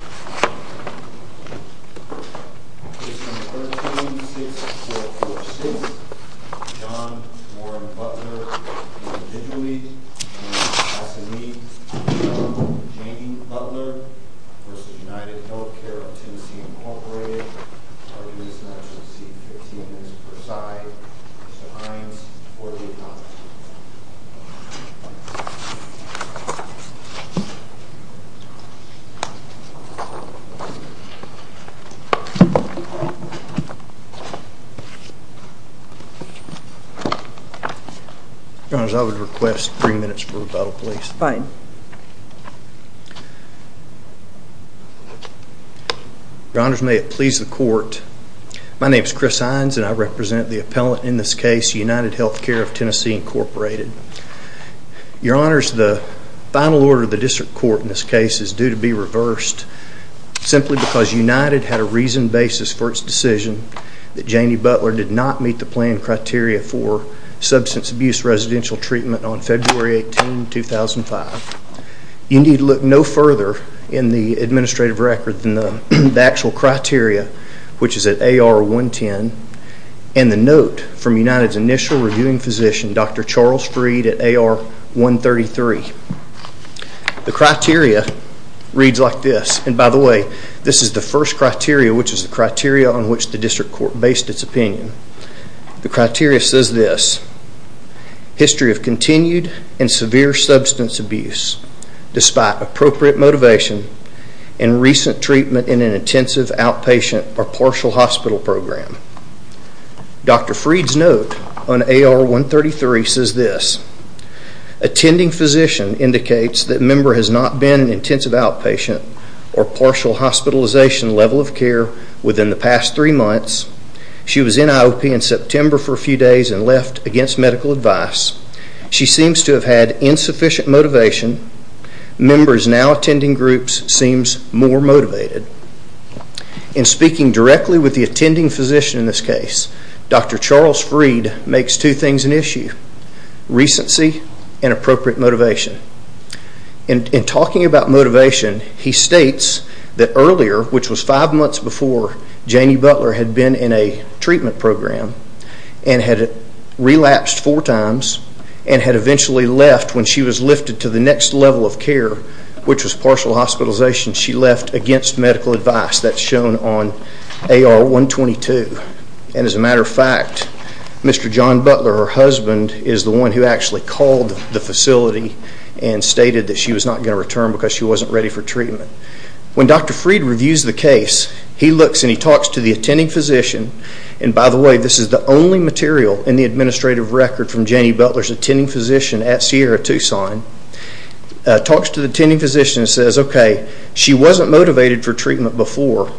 v. United Healthcare of Tennessee, Inc. I would like to request three minutes for rebuttal, please. Your Honors, may it please the Court, my name is Chris Hines and I represent the appellant in this case, United Healthcare of Tennessee, Inc. Your Honors, the final order of the District Court in this case is due to be reversed simply because United had a reasoned basis for its decision that Janie Butler did not meet the planned criteria for substance abuse residential treatment on February 18, 2005. You need look no further in the administrative record than the actual criteria, which is at AR 110, and the note from United's initial reviewing physician, Dr. Charles Freed at AR 133. The criteria reads like this, and by the way, this is the first criteria, which is the criteria on which the District Court based its opinion. The criteria says this, history of continued and severe substance abuse despite appropriate motivation and recent treatment in an intensive outpatient or partial hospital program. Dr. Freed's note on AR 133 says this, attending physician indicates that member has not been in intensive outpatient or partial hospitalization level of care within the past three months. She was in IOP in September for a few days and left against medical advice. She seems to have had insufficient motivation. Members now attending groups seems more motivated. In speaking directly with the attending physician in this case, Dr. Charles Freed makes two things an issue, recency and appropriate motivation. In talking about motivation, he states that earlier, which was five months before Janie Butler had been in a treatment program and had relapsed four times and had eventually left when she was lifted to the next level of care, which was partial hospitalization, she left against medical advice. That's shown on AR 122. As a matter of fact, Mr. John Butler, her husband, is the one who actually called the facility and stated that she was not going to return because she wasn't ready for treatment. When Dr. Freed reviews the case, he looks and he talks to the attending physician, and by the way, this is the only material in the administrative record from Janie Butler's attending physician at Sierra-Tucson, talks to the attending physician and says, okay, she wasn't motivated for treatment before,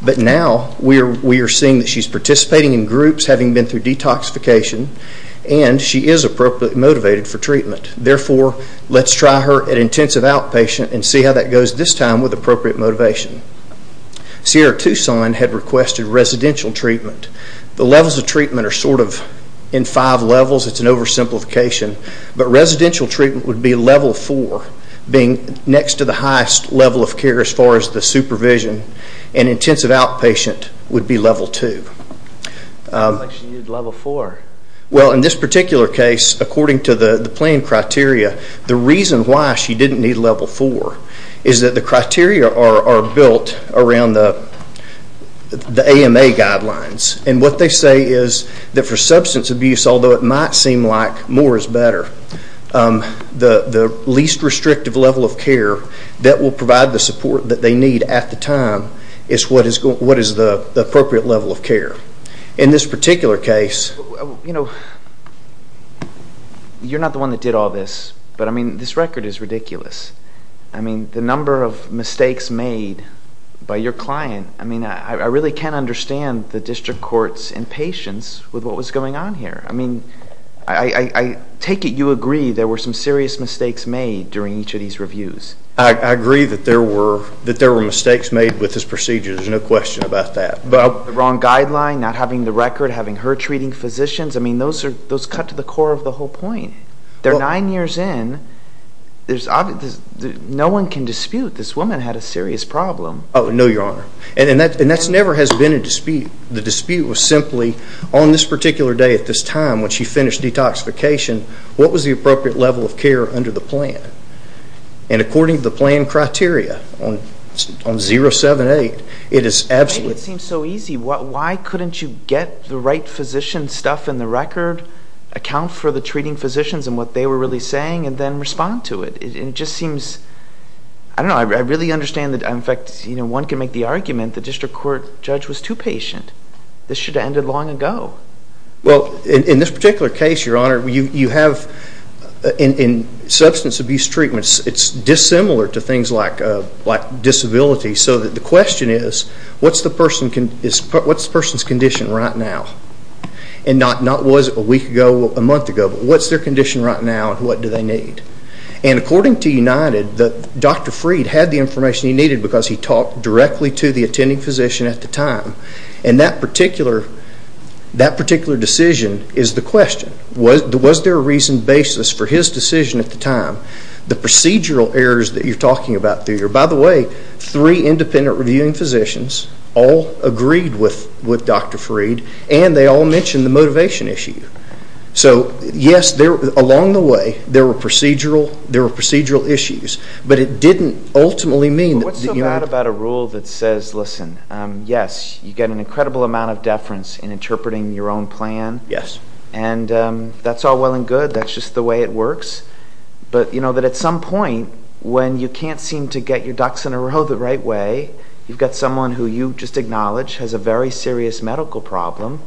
but now we are seeing that she's participating in groups, having been through detoxification, and she is appropriately motivated for treatment. Therefore, let's try her at intensive outpatient and see how that goes this time with appropriate motivation. Sierra-Tucson had requested residential treatment. The levels of treatment are sort of in five levels, it's an oversimplification, but residential treatment would be level 4, being next to the highest level of care as far as the supervision, and intensive outpatient would be level 2. It looks like she needed level 4. Well, in this particular case, according to the plan criteria, the reason why she didn't need level 4 is that the criteria are built around the AMA guidelines, and what they say is that for substance abuse, although it might seem like more is better, the least restrictive level of care that will provide the support that they need at the time is what is the appropriate level of care. In this particular case, you know, you're not the one that did all this, but I mean, this record is ridiculous. I mean, the number of mistakes made by your client, I mean, I really can't understand the district court's impatience with what was going on here. I mean, I take it you agree there were some serious mistakes made during each of these reviews. I agree that there were mistakes made with this procedure, there's no question about that. The wrong guideline, not having the record, having her treating physicians, I mean, those cut to the core of the whole point. They're nine years in, no one can dispute this woman had a serious problem. No, your honor. And that never has been a dispute. The dispute was simply on this particular day at this time when she finished detoxification, what was the appropriate level of care under the plan? And according to the plan criteria on 07-8, it is absolutely... It seems so easy. Why couldn't you get the right physician stuff in the record, account for the treating physicians and what they were really saying, and then respond to it? It just seems... I don't know. I really understand that, in fact, one can make the argument the district court judge was too patient. This should have ended long ago. Well, in this particular case, your honor, you have... In substance abuse treatments, it's dissimilar to things like disability. So the question is, what's the person's condition right now? And not was it a week ago, a month ago, but what's their condition right now and what do they need? And according to United, Dr. Freed had the information he needed because he talked directly to the attending physician at the time. And that particular decision is the question. Was there a reasoned basis for his decision at the time? The procedural errors that you're talking about, by the way, three independent reviewing physicians all agreed with Dr. Freed and they all mentioned the motivation issue. So yes, along the way, there were procedural issues, but it didn't ultimately mean that... What's so bad about a rule that says, listen, yes, you get an incredible amount of deference in interpreting your own plan and that's all well and good, that's just the way it works. But that at some point, when you can't seem to get your ducks in a row the right way, you've got someone who you just acknowledge has a very serious medical problem,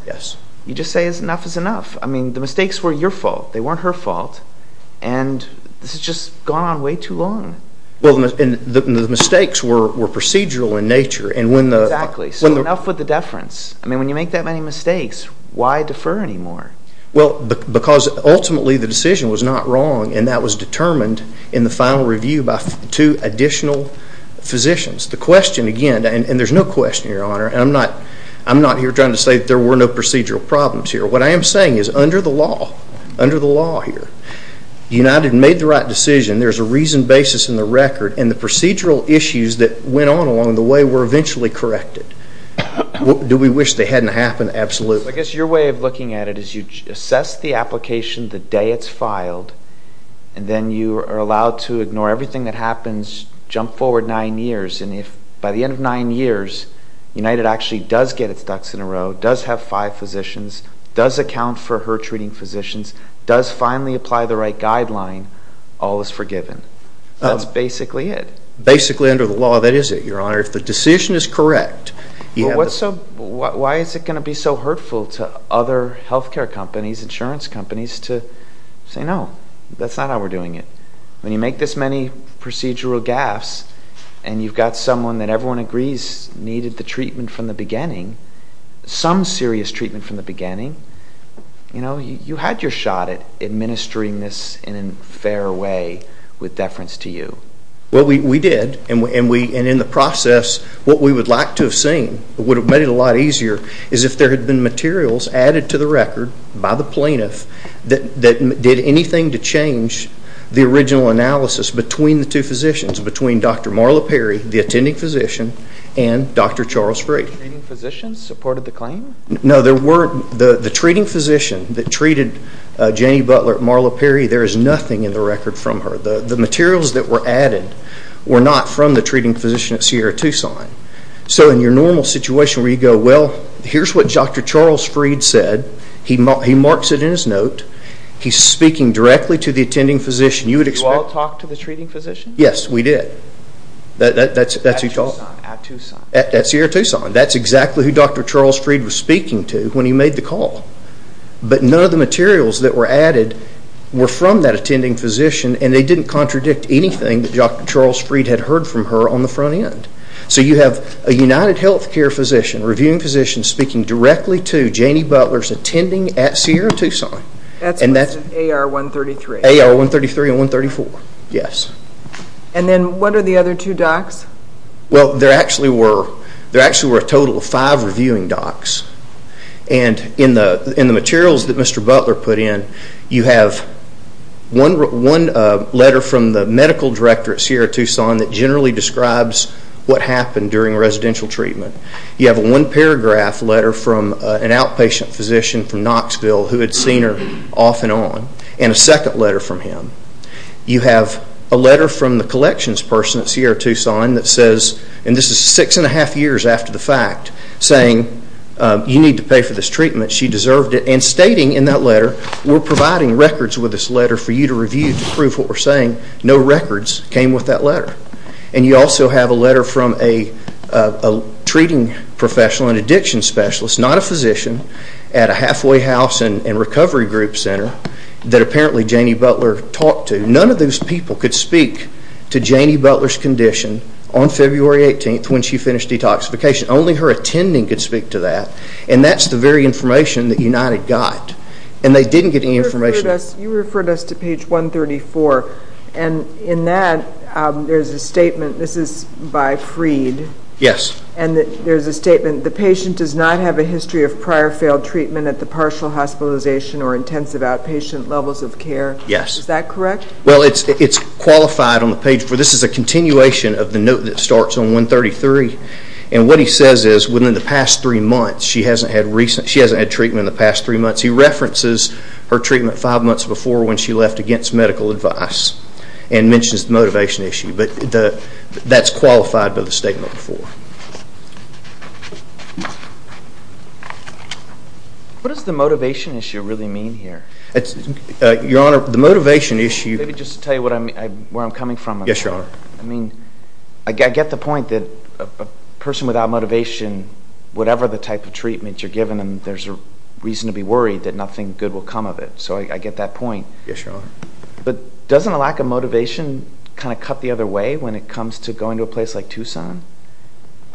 you just say, enough is enough. I mean, the mistakes were your fault, they weren't her fault, and this has just gone on way too long. Well, and the mistakes were procedural in nature and when the... Exactly. So enough with the deference. I mean, when you make that many mistakes, why defer anymore? Well, because ultimately the decision was not wrong and that was determined in the final review by two additional physicians. The question again, and there's no question, Your Honor, and I'm not here trying to say that there were no procedural problems here. What I am saying is under the law, under the law here, United made the right decision, there's a reasoned basis in the record and the procedural issues that went on along the way were eventually corrected. Do we wish they hadn't happened? Absolutely. I guess your way of looking at it is you assess the application the day it's filed and then you are allowed to ignore everything that happens, jump forward nine years, and if by the end of nine years, United actually does get its ducks in a row, does have five physicians, does account for her treating physicians, does finally apply the right guideline, all is forgiven. That's basically it. Basically under the law, that is it, Your Honor. If the decision is correct, you have... Why is it going to be so hurtful to other health care companies, insurance companies to say, no, that's not how we're doing it? When you make this many procedural gaffes and you've got someone that everyone agrees needed the treatment from the beginning, some serious treatment from the beginning, you know, you had your shot at administering this in a fair way with deference to you. Well, we did and in the process, what we would like to have seen would have made it a lot easier is if there had been materials added to the record by the plaintiff that did anything to change the original analysis between the two physicians, between Dr. Marla Perry, the attending physician, and Dr. Charles Freed. The treating physician supported the claim? No, there weren't. The treating physician that treated Jenny Butler at Marla Perry, there is nothing in the record from her. The materials that were added were not from the treating physician at Sierra-Tucson. So in your normal situation where you go, well, here's what Dr. Charles Freed said, he marks it in his note, he's speaking directly to the attending physician. You all talked to the treating physician? Yes, we did. At Sierra-Tucson? At Sierra-Tucson. At Sierra-Tucson. That's exactly who Dr. Charles Freed was speaking to when he made the call. But none of the materials that were added were from that attending physician and they didn't contradict anything that Dr. Charles Freed had heard from her on the front end. So you have a UnitedHealthcare physician, a reviewing physician, speaking directly to Jenny Butler's attending at Sierra-Tucson. And that's AR-133. AR-133 and 134, yes. And then what are the other two docs? Well, there actually were a total of five reviewing docs. And in the materials that Mr. Butler put in, you have one letter from the medical director at Sierra-Tucson that generally describes what happened during residential treatment. You have a one-paragraph letter from an outpatient physician from Knoxville who had seen her off and on and a second letter from him. You have a letter from the collections person at Sierra-Tucson that says, and this is six and a half years after the fact, saying, you need to pay for this treatment. She deserved it. And stating in that letter, we're providing records with this letter for you to review No records came with that letter. And you also have a letter from a treating professional and addiction specialist, not a physician, at a halfway house and recovery group center that apparently Jenny Butler talked to. None of those people could speak to Jenny Butler's condition on February 18th when she finished detoxification. Only her attending could speak to that. And that's the very information that United got. And they didn't get any information. You referred us to page 134. And in that, there's a statement. This is by Freed. And there's a statement, the patient does not have a history of prior failed treatment at the partial hospitalization or intensive outpatient levels of care. Is that correct? Yes. Well, it's qualified on the page. This is a continuation of the note that starts on 133. And what he says is, within the past three months, she hasn't had treatment in the past three months. He references her treatment five months before when she left against medical advice. And mentions the motivation issue. But that's qualified by the statement before. What does the motivation issue really mean here? Your Honor, the motivation issue- Maybe just to tell you where I'm coming from. Yes, Your Honor. I mean, I get the point that a person without motivation, whatever the type of treatment you're giving them, there's a reason to be worried that nothing good will come of it. So I get that point. Yes, Your Honor. But doesn't a lack of motivation kind of cut the other way when it comes to going to a place like Tucson?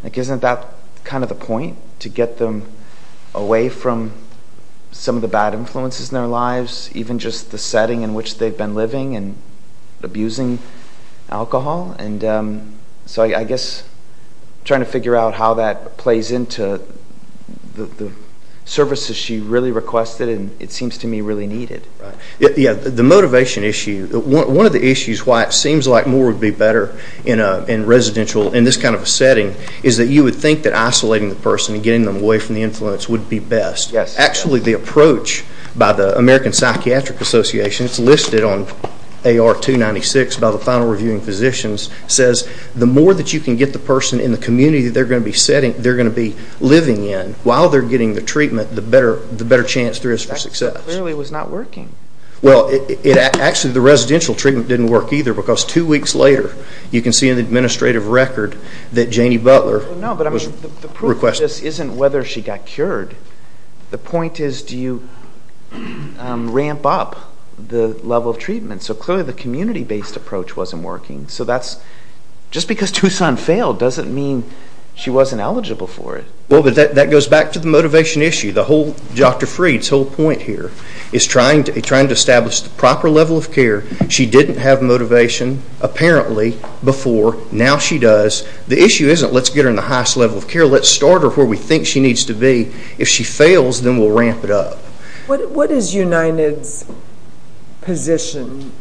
Like, isn't that kind of the point? To get them away from some of the bad influences in their lives? Even just the setting in which they've been living and abusing alcohol? And so I guess I'm trying to figure out how that plays into the services she really requested and it seems to me really needed. Right. Yeah. The motivation issue. One of the issues why it seems like more would be better in residential, in this kind of a setting, is that you would think that isolating the person and getting them away from the influence would be best. Yes. Actually, the approach by the American Psychiatric Association, it's listed on AR 296 by the Final Reviewing Physicians, says the more that you can get the person in the community that they're going to be living in while they're getting the treatment, the better chance there is for success. That clearly was not working. Well, actually the residential treatment didn't work either because two weeks later you can see in the administrative record that Janie Butler was requested. No, but the proof of this isn't whether she got cured. The point is do you ramp up the level of treatment? So clearly the community-based approach wasn't working. So that's, just because Tucson failed doesn't mean she wasn't eligible for it. Well, but that goes back to the motivation issue. The whole, Dr. Freed's whole point here is trying to establish the proper level of care. She didn't have motivation apparently before, now she does. The issue isn't let's get her in the highest level of care, let's start her where we think she needs to be. If she fails, then we'll ramp it up. What is United's position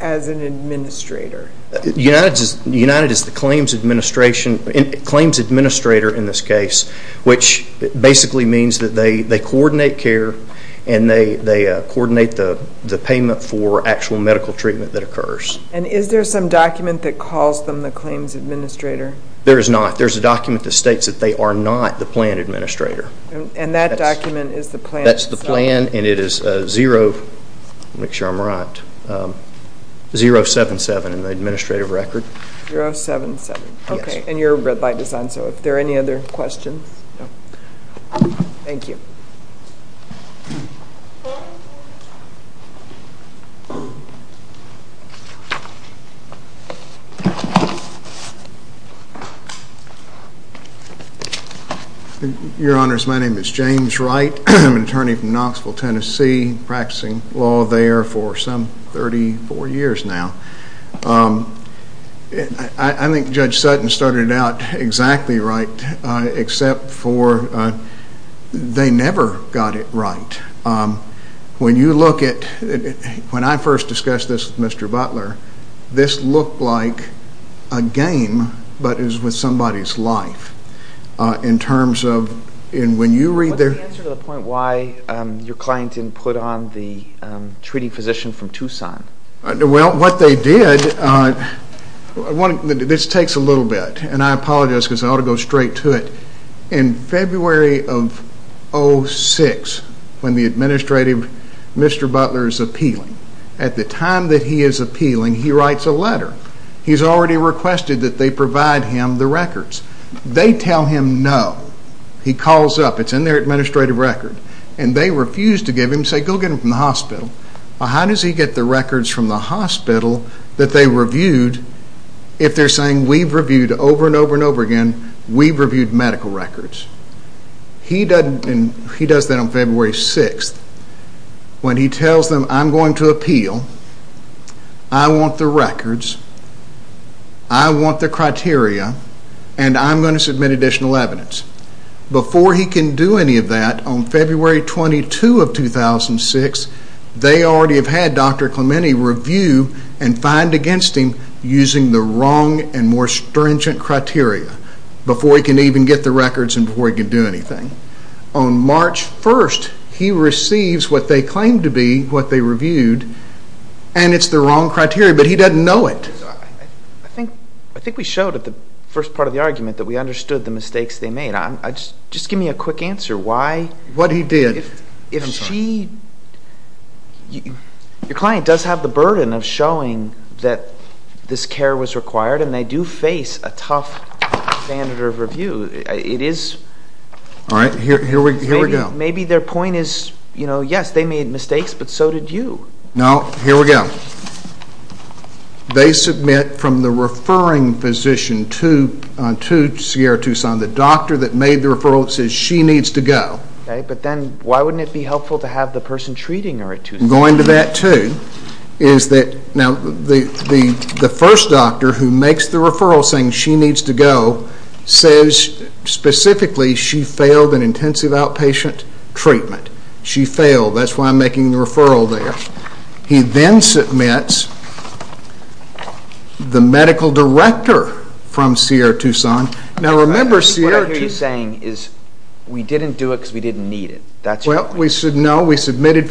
as an administrator? United is the claims administrator in this case, which basically means that they coordinate care and they coordinate the payment for actual medical treatment that occurs. And is there some document that calls them the claims administrator? There is not. There's a document that states that they are not the plan administrator. And that document is the plan? That's the plan and it is 0, make sure I'm right, 077 in the administrative record. 077. Yes. Okay. And you're a red light design, so if there are any other questions. Thank you. Your honors, my name is James Wright, I'm an attorney from Knoxville, Tennessee, practicing law there for some 34 years now. I think Judge Sutton started it out exactly right, except for they never got it right. When you look at, when I first discussed this with Mr. Butler, this looked like a game, but it was with somebody's life. In terms of, when you read their- What's the answer to the point why your client didn't put on the treating physician from Tucson? Well, what they did, this takes a little bit, and I apologize because I ought to go straight to it. In February of 06, when the administrative, Mr. Butler is appealing, at the time that he is appealing, he writes a letter. He's already requested that they provide him the records. They tell him no. He calls up, it's in their administrative record, and they refuse to give him, say go get him from the hospital. How does he get the records from the hospital that they reviewed, if they're saying we've reviewed over and over and over again, we've reviewed medical records? He does that on February 06, when he tells them I'm going to appeal, I want the records, I want the criteria, and I'm going to submit additional evidence. Before he can do any of that, on February 22 of 2006, they already have had Dr. Clementi review and find against him using the wrong and more stringent criteria, before he can even get the records and before he can do anything. On March 1st, he receives what they claim to be, what they reviewed, and it's the wrong criteria, but he doesn't know it. I think we showed at the first part of the argument that we understood the mistakes they made. Just give me a quick answer. Why? What he did. If she, your client does have the burden of showing that this care was required, and they do face a tough standard of review. It is. All right. Here we go. Maybe their point is, you know, yes, they made mistakes, but so did you. No. Here we go. They submit from the referring physician to Sierra Tucson, the doctor that made the referral that says she needs to go. Okay, but then why wouldn't it be helpful to have the person treating her at Tucson? Going to that too, is that, now, the first doctor who makes the referral saying she needs to go, says specifically she failed an intensive outpatient treatment. She failed. That's why I'm making the referral there. He then submits the medical director from Sierra Tucson. Now remember Sierra Tucson. What I hear you saying is we didn't do it because we didn't need it. That's your point. Well, no, we submitted.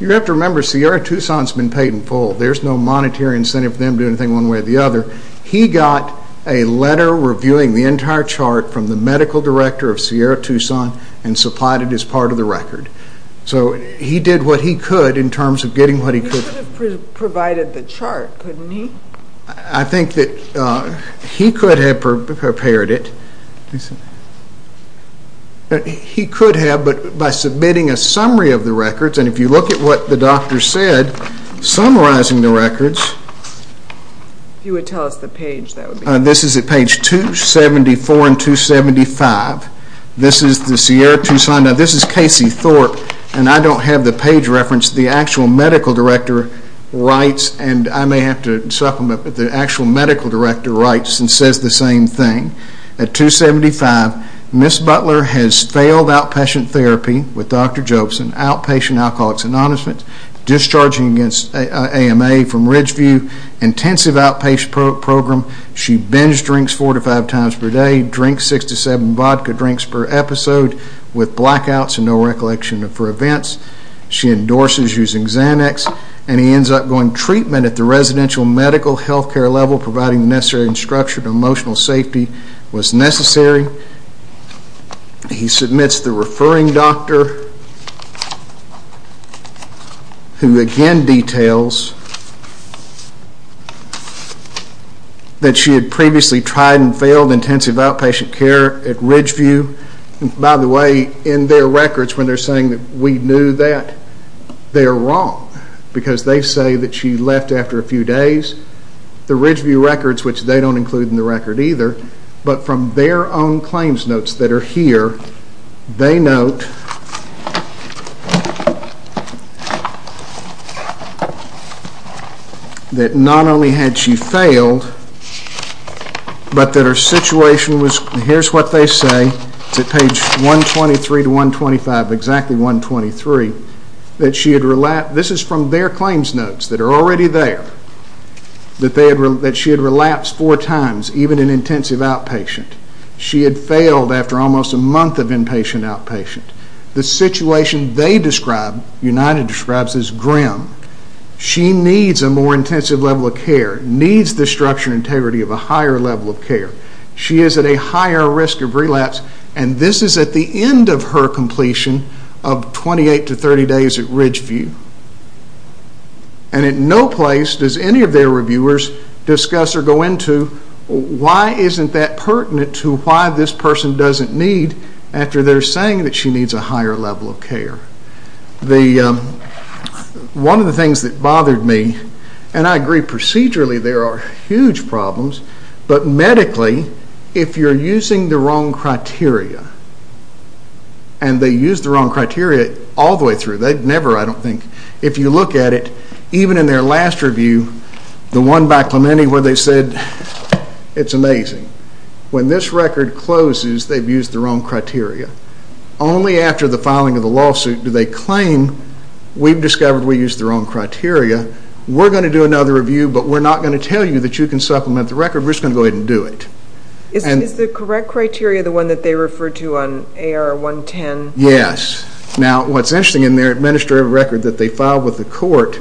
You have to remember Sierra Tucson has been paid in full. There's no monetary incentive for them to do anything one way or the other. He got a letter reviewing the entire chart from the medical director of Sierra Tucson and supplied it as part of the record. So he did what he could in terms of getting what he could. He could have provided the chart, couldn't he? I think that he could have prepared it. He could have, but by submitting a summary of the records, and if you look at what the doctor said, summarizing the records, this is at page 274 and 275, this is the Sierra Tucson. Now this is Casey Thorpe, and I don't have the page reference. The actual medical director writes, and I may have to supplement, but the actual medical director writes and says the same thing. At 275, Ms. Butler has failed outpatient therapy with Dr. Jobson, outpatient alcoholics and honest men, discharging against AMA from Ridgeview, intensive outpatient program. She binged drinks four to five times per day, drank six to seven vodka drinks per episode with blackouts and no recollection of her events. She endorses using Xanax, and he ends up going treatment at the residential medical health care level, providing the necessary instruction, emotional safety was necessary. He submits the referring doctor, who again details that she had previously tried and the way in their records when they're saying that we knew that, they're wrong, because they say that she left after a few days. The Ridgeview records, which they don't include in the record either, but from their own claims notes that are here, they note that not only had she failed, but that her situation was, and here's what they say, it's at page 123 to 125, exactly 123, that she had relapsed, this is from their claims notes that are already there, that she had relapsed four times, even in intensive outpatient. She had failed after almost a month of inpatient outpatient. The situation they describe, United describes, is grim. She needs a more intensive level of care, needs the structure and integrity of a higher level of care. She is at a higher risk of relapse, and this is at the end of her completion of 28 to 30 days at Ridgeview, and in no place does any of their reviewers discuss or go into why isn't that pertinent to why this person doesn't need after they're saying that she needs a higher level of care. One of the things that bothered me, and I agree procedurally there are huge problems, but medically, if you're using the wrong criteria, and they use the wrong criteria all the way through, they've never, I don't think, if you look at it, even in their last review, the one by Clementi where they said, it's amazing, when this record closes, they've used the wrong criteria. Only after the filing of the lawsuit do they claim, we've discovered we used the wrong criteria, we're going to do another review, but we're not going to tell you that you can use that record, we're just going to go ahead and do it. Is the correct criteria the one that they refer to on AR 110? Yes. Now, what's interesting in their administrative record that they filed with the court,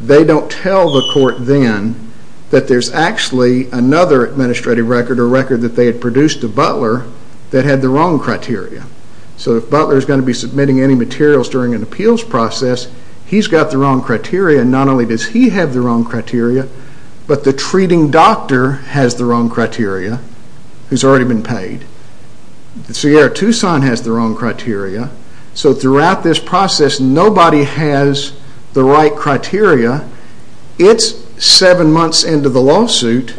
they don't tell the court then that there's actually another administrative record or record that they had produced to Butler that had the wrong criteria. So if Butler is going to be submitting any materials during an appeals process, he's got the wrong criteria, not only does he have the wrong criteria, but the treating doctor has the wrong criteria, who's already been paid. Sierra-Tucson has the wrong criteria. So throughout this process, nobody has the right criteria. It's seven months into the lawsuit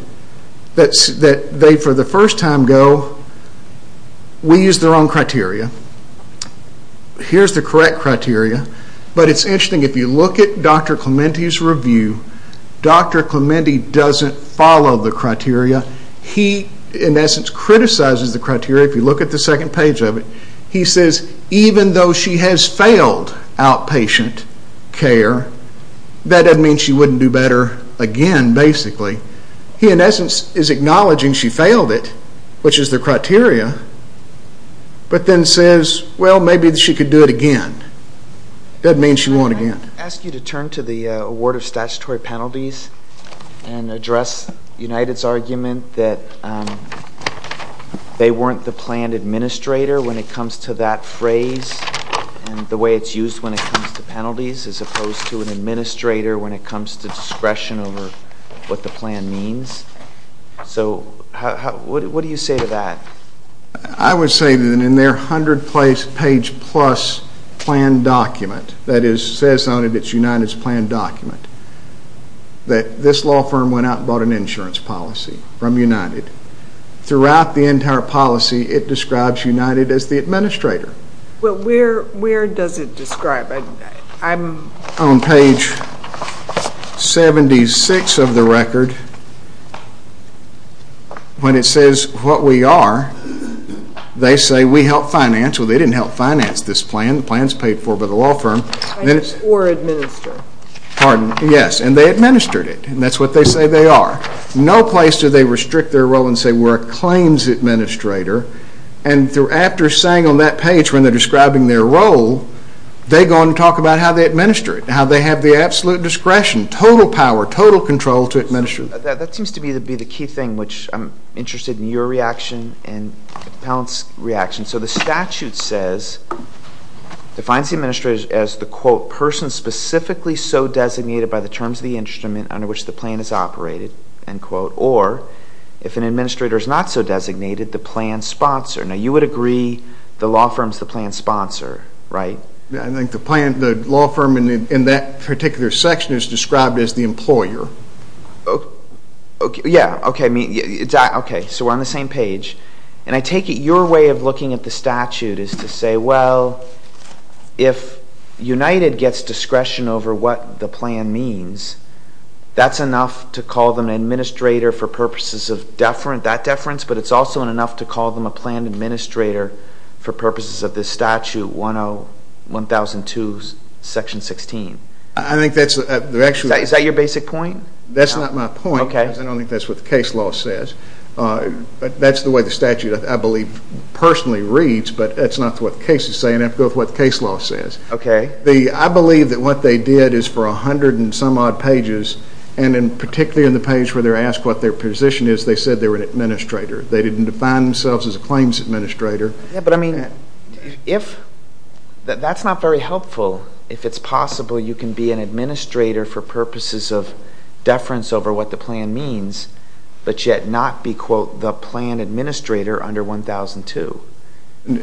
that they, for the first time, go, we used the wrong criteria, but it's interesting, if you look at Dr. Clementi's review, Dr. Clementi doesn't follow the criteria, he, in essence, criticizes the criteria, if you look at the second page of it, he says even though she has failed outpatient care, that doesn't mean she wouldn't do better again, basically. He in essence is acknowledging she failed it, which is the criteria, but then says well maybe she could do it again. That means she won't again. Can I ask you to turn to the award of statutory penalties and address United's argument that they weren't the planned administrator when it comes to that phrase and the way it's used when it comes to penalties as opposed to an administrator when it comes to discretion over what the plan means? So what do you say to that? I would say that in their hundred page plus plan document that says on it it's United's plan document, that this law firm went out and bought an insurance policy from United. Throughout the entire policy, it describes United as the administrator. Well where does it describe, I'm... On page 76 of the record, when it says what we are, they say we help finance, well they didn't help finance this plan, the plan's paid for by the law firm. Or administer. Pardon, yes, and they administered it, and that's what they say they are. No place do they restrict their role and say we're a claims administrator, and after saying on that page when they're describing their role, they go on and talk about how they administer it, how they have the absolute discretion, total power, total control to administer it. That seems to be the key thing which I'm interested in your reaction and the appellant's reaction. So the statute says, defines the administrator as the quote, person specifically so designated by the terms of the instrument under which the plan is operated, end quote, or if an administrator is not so designated, the plan's sponsor. Now you would agree the law firm's the plan's sponsor, right? I think the plan, the law firm in that particular section is described as the employer. Yeah, okay, so we're on the same page. And I take it your way of looking at the statute is to say, well, if United gets discretion over what the plan means, that's enough to call them an administrator for purposes of deferent, that deference, but it's also enough to call them a plan administrator for purposes of this statute 1002 section 16. I think that's, is that your basic point? That's not my point. Okay. I don't think that's what the case law says. That's the way the statute, I believe, personally reads, but that's not what the case is saying. I have to go with what the case law says. Okay. The, I believe that what they did is for a hundred and some odd pages, and in particularly in the page where they're asked what their position is, they said they were an administrator. They didn't define themselves as a claims administrator. Yeah, but I mean, if, that's not very helpful if it's possible you can be an administrator for purposes of deference over what the plan means, but yet not be, quote, the plan administrator under 1002.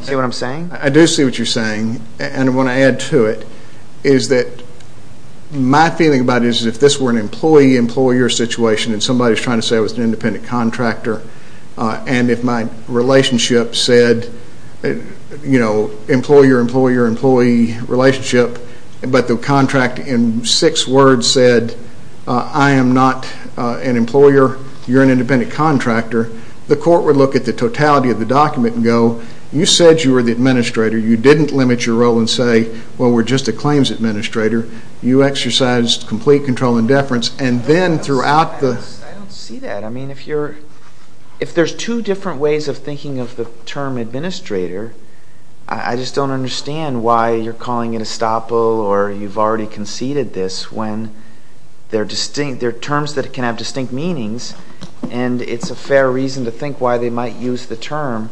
See what I'm saying? I do see what you're saying. And I want to add to it is that my feeling about it is if this were an employee-employer situation and somebody's trying to say I was an independent contractor, and if my relationship said, you know, employer-employer-employee relationship, but the contract in six words said I am not an employer, you're an independent contractor, the court would look at the totality of the document and go, you said you were the administrator. You didn't limit your role and say, well, we're just a claims administrator. You exercised complete control and deference. And then throughout the... I don't see that. I mean, if you're, if there's two different ways of thinking of the term administrator, I just don't understand why you're calling it estoppel or you've already conceded this when they're distinct, they're terms that can have distinct meanings, and it's a fair reason to think why they might use the term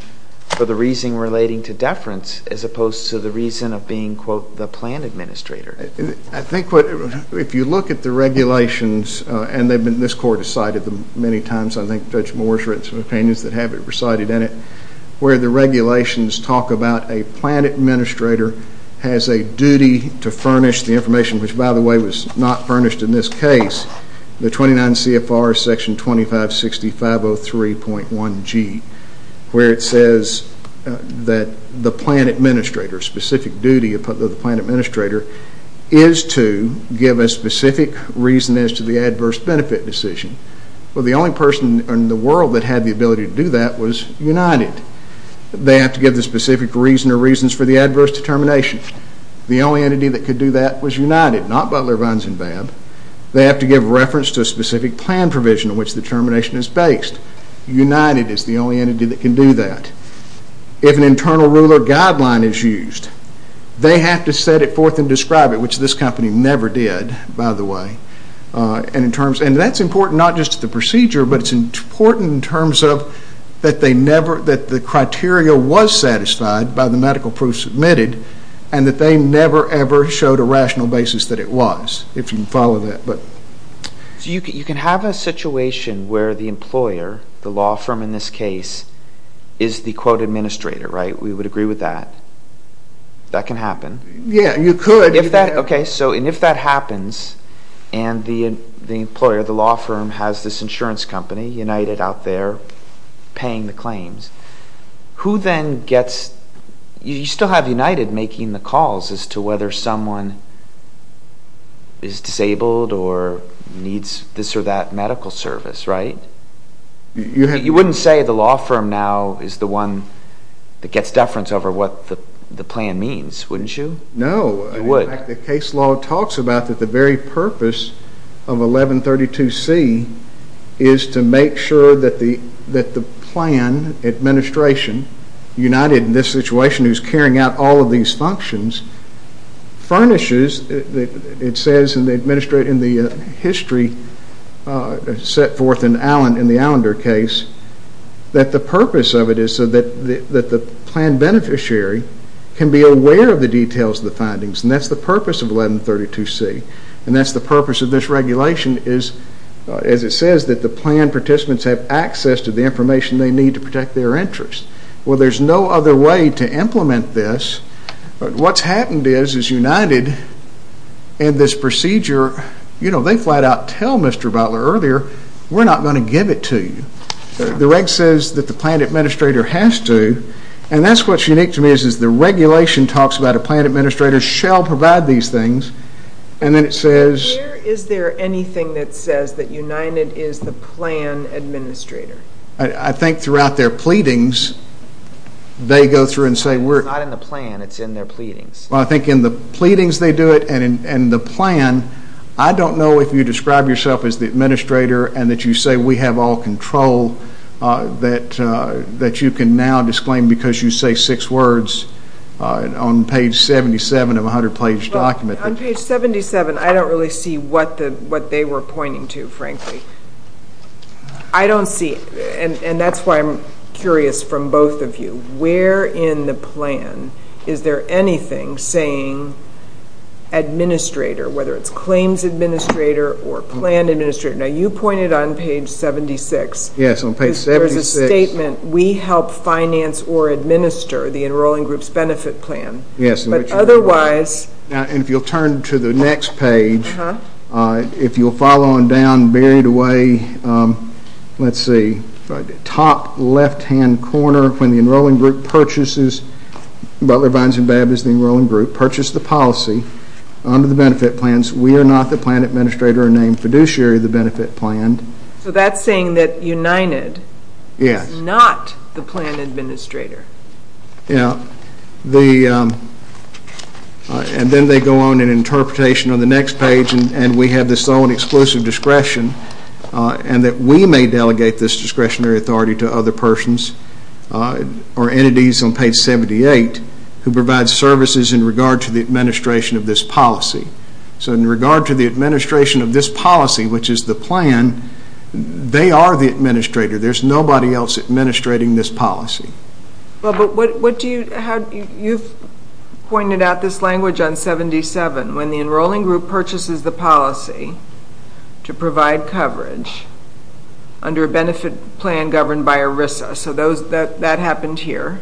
for the reason relating to deference as opposed to the reason of being, quote, the plan administrator. I think what, if you look at the regulations, and they've been, this court has cited them many times, I think Judge Moore's written some opinions that have it recited in it, where the regulations talk about a plan administrator has a duty to furnish the information, which by the way was not furnished in this case, the 29 CFR section 2560.503.1G, where it says that the plan administrator, specific duty of the plan administrator is to give a specific reason as to the adverse benefit decision. Well, the only person in the world that had the ability to do that was United. They have to give the specific reason or reasons for the adverse determination. The only entity that could do that was United, not Butler, Vines, and Babb. They have to give reference to a specific plan provision in which the determination is based. United is the only entity that can do that. If an internal ruler guideline is used, they have to set it forth and describe it, which this company never did, by the way. And in terms, and that's important not just to the procedure, but it's important in terms of that they never, that the criteria was satisfied by the medical proof submitted, and that they never, ever showed a rational basis that it was, if you can follow that. So you can have a situation where the employer, the law firm in this case, is the, quote, administrator, right? We would agree with that. That can happen. Yeah, you could. If that, okay. So, and if that happens, and the employer, the law firm has this insurance company, United out there paying the claims, who then gets, you still have United making the calls as to whether someone is disabled or needs this or that medical service, right? You wouldn't say the law firm now is the one that gets deference over what the plan means, wouldn't you? No. You would. In fact, the case law talks about that the very purpose of 1132C is to make sure that the, that the plan administration, United in this situation who is carrying out all of these functions, furnishes, it says in the history set forth in the Allender case, that the purpose of it is so that the plan beneficiary can be aware of the details of the findings. And that's the purpose of 1132C. And that's the purpose of this regulation is, as it says, that the plan participants have access to the information they need to protect their interests. Well, there's no other way to implement this. What's happened is, is United, in this procedure, you know, they flat out tell Mr. Butler earlier, we're not going to give it to you. The reg says that the plan administrator has to, and that's what's unique to me is, is the regulation talks about a plan administrator shall provide these things, and then it says. Where is there anything that says that United is the plan administrator? I think throughout their pleadings, they go through and say we're. It's not in the plan, it's in their pleadings. Well, I think in the pleadings they do it, and in the plan, I don't know if you describe yourself as the administrator and that you say we have all control, that you can now disclaim because you say six words on page 77 of a 100 page document. On page 77, I don't really see what they were pointing to, frankly. I don't see, and that's why I'm curious from both of you, where in the plan is there anything saying administrator, whether it's claims administrator or plan administrator. Now, you pointed on page 76. Yes, on page 76. There's a statement, we help finance or administer the enrolling group's benefit plan. Yes. But otherwise. And if you'll turn to the next page, if you'll follow on down, buried away, let's see, top left hand corner, when the enrolling group purchases, Butler, Vines, and Babb is the enrolling group, purchase the policy under the benefit plans. We are not the plan administrator or named fiduciary of the benefit plan. So that's saying that United is not the plan administrator. Yes, and then they go on in interpretation on the next page and we have this own exclusive discretion and that we may delegate this discretionary authority to other persons or entities on page 78 who provide services in regard to the administration of this policy. So in regard to the administration of this policy, which is the plan, they are the administrator. There's nobody else administrating this policy. Well, but what do you, you've pointed out this language on 77. When the enrolling group purchases the policy to provide coverage under a benefit plan governed by ERISA. So that happened here.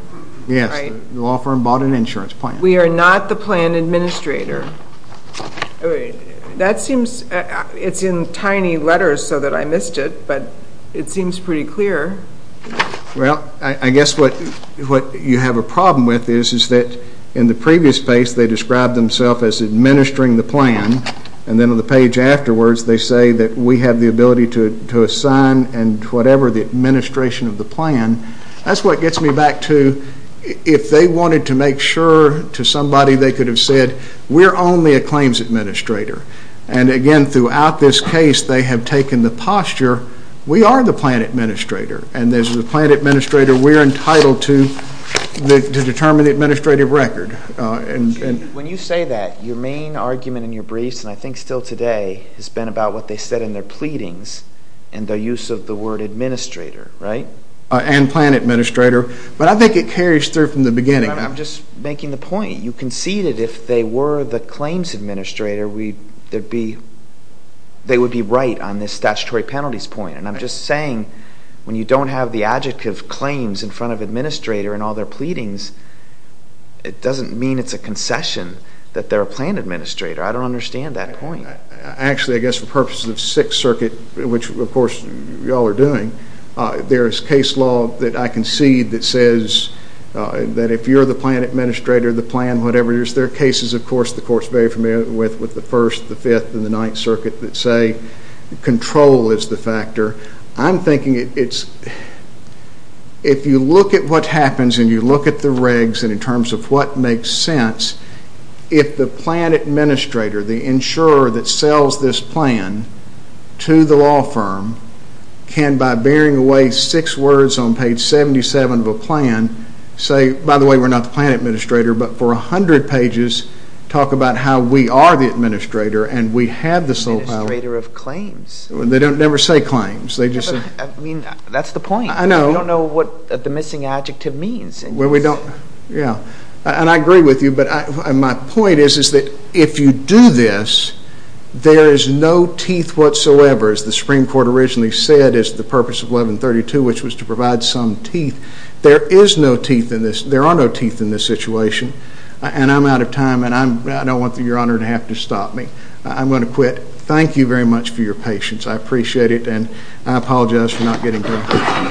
Yes, the law firm bought an insurance plan. We are not the plan administrator. That seems, it's in tiny letters so that I missed it, but it seems pretty clear. Well, I guess what you have a problem with is that in the previous page they described themselves as administering the plan and then on the page afterwards they say that we have the ability to assign and whatever the administration of the plan. That's what gets me back to if they wanted to make sure to somebody they could have said we're only a claims administrator. And again, throughout this case they have taken the posture we are the plan administrator and as the plan administrator we're entitled to determine the administrative record. When you say that, your main argument in your briefs and I think still today has been about what they said in their pleadings and their use of the word administrator, right? And plan administrator, but I think it carries through from the beginning. I'm just making the point. You conceded if they were the claims administrator they would be right on this statutory penalties point and I'm just saying when you don't have the adjective claims in front of administrator in all their pleadings, it doesn't mean it's a concession that they're a plan administrator. I don't understand that point. Actually, I guess for purposes of Sixth Circuit, which of course you all are doing, there is a case law that I concede that says that if you're the plan administrator, the plan whatever it is, there are cases of course the court is very familiar with with the First, the Fifth, and the Ninth Circuit that say control is the factor. I'm thinking it's, if you look at what happens and you look at the regs and in terms of what makes sense, if the plan administrator, the insurer that sells this plan to the law firm can by bearing away six words on page 77 of a plan say, by the way, we're not the plan administrator, but for a hundred pages talk about how we are the administrator and we have the sole power. Administrator of claims. They don't never say claims. They just say. I mean, that's the point. I know. You don't know what the missing adjective means. Well, we don't, yeah, and I agree with you, but my point is that if you do this, there is no teeth whatsoever, as the Supreme Court originally said is the purpose of 1132, which was to provide some teeth. There is no teeth in this. There are no teeth in this situation, and I'm out of time, and I don't want your honor to have to stop me. I'm going to quit. Thank you very much for your patience. I appreciate it, and I apologize for not getting to it.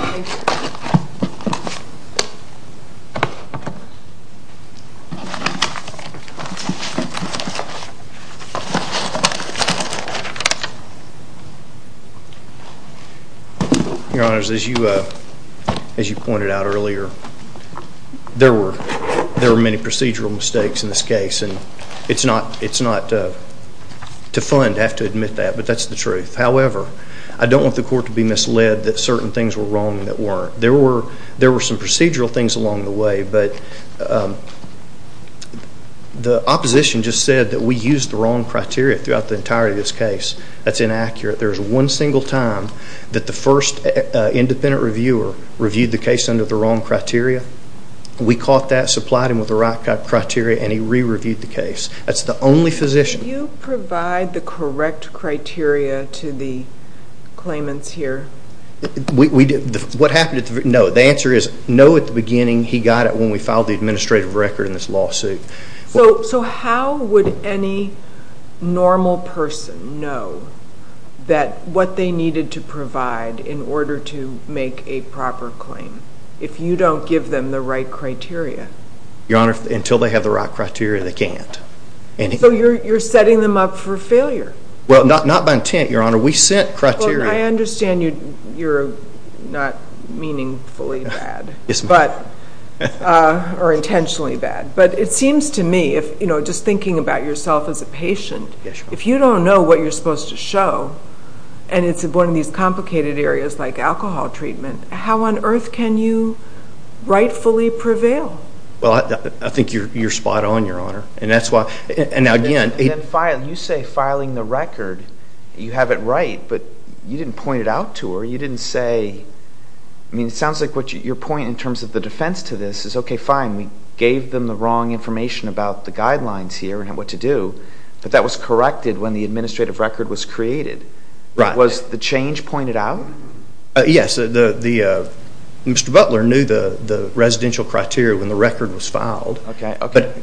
Your honors, as you pointed out earlier, there were many procedural mistakes in this case, and it's not to fund to have to admit that, but that's the truth. However, I don't want the court to be misled that certain things were wrong that weren't. There were some procedural things along the way, but the opposition just said that we used the wrong criteria throughout the entirety of this case. That's inaccurate. There's one single time that the first independent reviewer reviewed the case under the wrong criteria. We caught that, supplied him with the right criteria, and he re-reviewed the case. That's the only position. Did you provide the correct criteria to the claimants here? What happened at the... No. The answer is no at the beginning. He got it when we filed the administrative record in this lawsuit. So how would any normal person know what they needed to provide in order to make a proper claim if you don't give them the right criteria? Your honor, until they have the right criteria, they can't. So you're setting them up for failure? Well, not by intent, your honor. We sent criteria. Well, I understand you're not meaningfully bad, or intentionally bad. But it seems to me, just thinking about yourself as a patient, if you don't know what you're supposed to show, and it's one of these complicated areas like alcohol treatment, how on earth can you rightfully prevail? Well, I think you're spot on, your honor. And that's why... And again... You say filing the record, you have it right, but you didn't point it out to her. You didn't say... I mean, it sounds like your point in terms of the defense to this is, okay, fine, we gave them the wrong information about the guidelines here and what to do, but that was corrected when the administrative record was created. Was the change pointed out? Yes. Mr. Butler knew the residential criteria when the record was filed.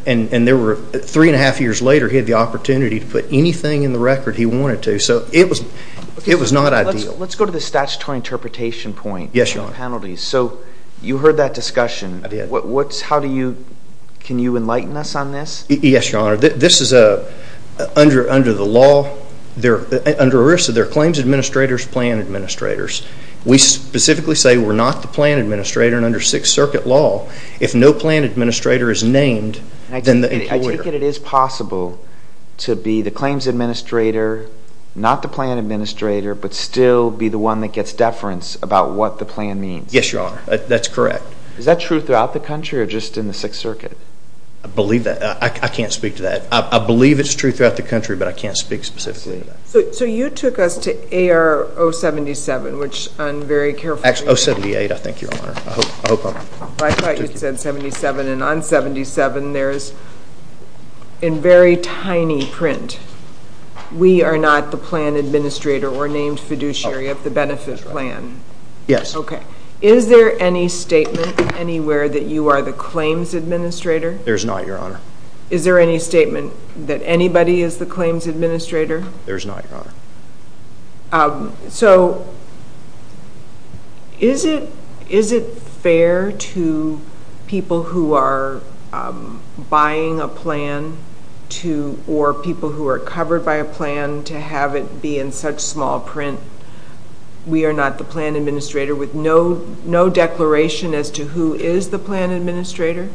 And there were... Three and a half years later, he had the opportunity to put anything in the record he wanted to. So it was not ideal. Let's go to the statutory interpretation point on penalties. So you heard that discussion. How do you... Can you enlighten us on this? Yes, your honor. This is under the law, under ERISA, they're claims administrators, plan administrators. We specifically say we're not the plan administrator, and under Sixth Circuit law, if no plan administrator is named, then the employer... I take it it is possible to be the claims administrator, not the plan administrator, but still be the one that gets deference about what the plan means. Yes, your honor. That's correct. Is that true throughout the country or just in the Sixth Circuit? I believe that. I can't speak to that. I believe it's true throughout the country, but I can't speak specifically to that. So you took us to AR 077, which I'm very careful... Actually, 078, I think, your honor. I hope I'm... I thought you said 77, and on 77, there's in very tiny print, we are not the plan administrator or named fiduciary of the benefit plan. Yes. Okay. Is there any statement anywhere that you are the claims administrator? There's not, your honor. Is there any statement that anybody is the claims administrator? There's not, your honor. So is it fair to people who are buying a plan or people who are covered by a plan to have it be in such small print, we are not the plan administrator, with no declaration as to who is the plan administrator?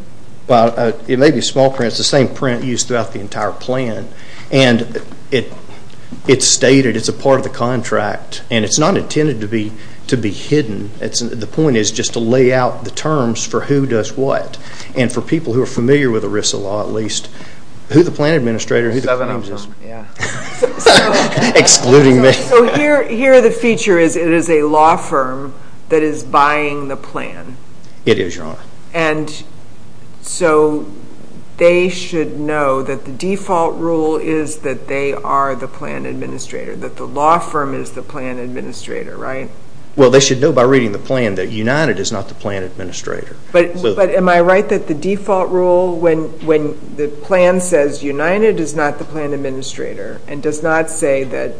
Well, it may be small print. It's the same print used throughout the entire plan, and it's stated. It's a part of the contract, and it's not intended to be hidden. The point is just to lay out the terms for who does what, and for people who are familiar with ERISA law, at least, who the plan administrator, who the claims... Seven of them. Yeah. Excluding me. So here, the feature is it is a law firm that is buying the plan. It is, your honor. And so they should know that the default rule is that they are the plan administrator, that the law firm is the plan administrator, right? Well, they should know by reading the plan that United is not the plan administrator. But am I right that the default rule, when the plan says United is not the plan administrator and does not say that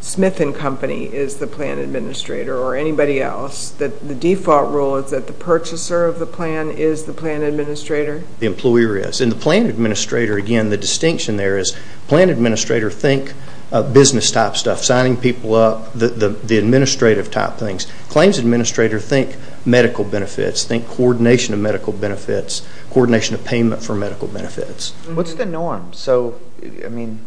Smith & Company is the plan administrator or anybody else, that the purchaser of the plan is the plan administrator? The employer is. And the plan administrator, again, the distinction there is plan administrator think business type stuff, signing people up, the administrative type things. Claims administrator think medical benefits, think coordination of medical benefits, coordination of payment for medical benefits. What's the norm? So, I mean,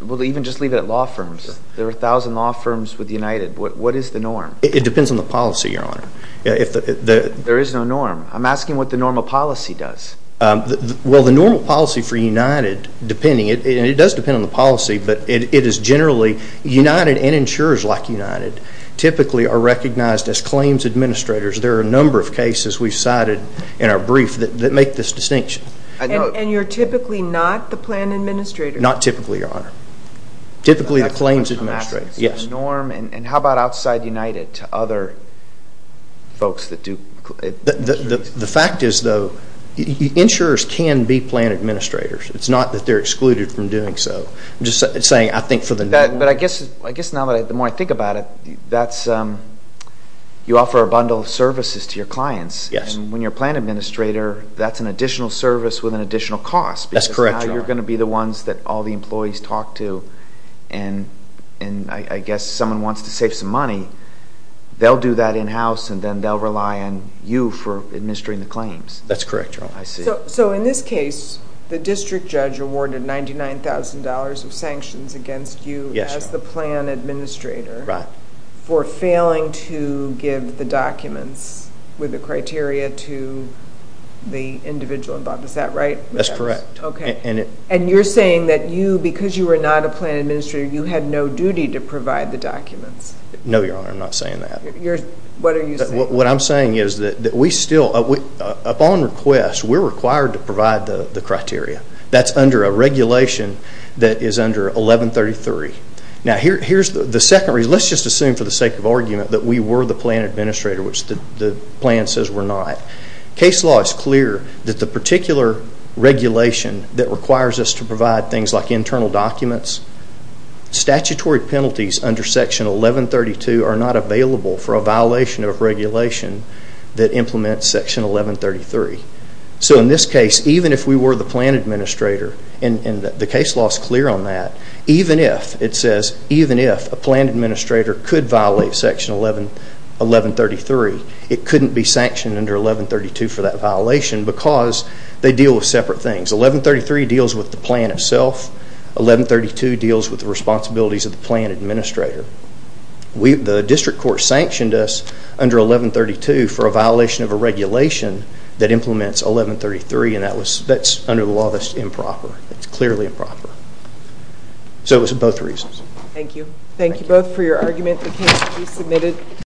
we'll even just leave it at law firms. There are a thousand law firms with United. What is the norm? It depends on the policy, your honor. There is no norm. I'm asking what the normal policy does. Well, the normal policy for United, depending, and it does depend on the policy, but it is generally United and insurers like United typically are recognized as claims administrators. There are a number of cases we've cited in our brief that make this distinction. And you're typically not the plan administrator? Not typically, your honor. Typically the claims administrator. Is there a norm? And how about outside United to other folks that do insurance? The fact is, though, insurers can be plan administrators. It's not that they're excluded from doing so. I'm just saying I think for the norm. But I guess now the more I think about it, that's, you offer a bundle of services to your clients. Yes. And when you're a plan administrator, that's an additional service with an additional cost. That's correct, your honor. Because now you're going to be the ones that all the employees talk to. And I guess someone wants to save some money, they'll do that in-house and then they'll rely on you for administering the claims. That's correct, your honor. I see. So in this case, the district judge awarded $99,000 of sanctions against you as the plan administrator for failing to give the documents with the criteria to the individual involved. Is that right? That's correct. Okay. And you're saying that you, because you were not a plan administrator, you had no duty to provide the documents. No, your honor. I'm not saying that. What are you saying? What I'm saying is that we still, upon request, we're required to provide the criteria. That's under a regulation that is under 1133. Now here's the second reason. Let's just assume for the sake of argument that we were the plan administrator, which the plan says we're not. Case law is clear that the particular regulation that requires us to provide things like internal documents, statutory penalties under section 1132 are not available for a violation of regulation that implements section 1133. So in this case, even if we were the plan administrator, and the case law is clear on that, even if, it says, even if a plan administrator could violate section 1133, it couldn't be 1132 for that violation because they deal with separate things. 1133 deals with the plan itself, 1132 deals with the responsibilities of the plan administrator. The district court sanctioned us under 1132 for a violation of a regulation that implements 1133, and that was, that's under the law, that's improper. It's clearly improper. So it was both reasons. Thank you. Thank you both for your argument. The case will be submitted.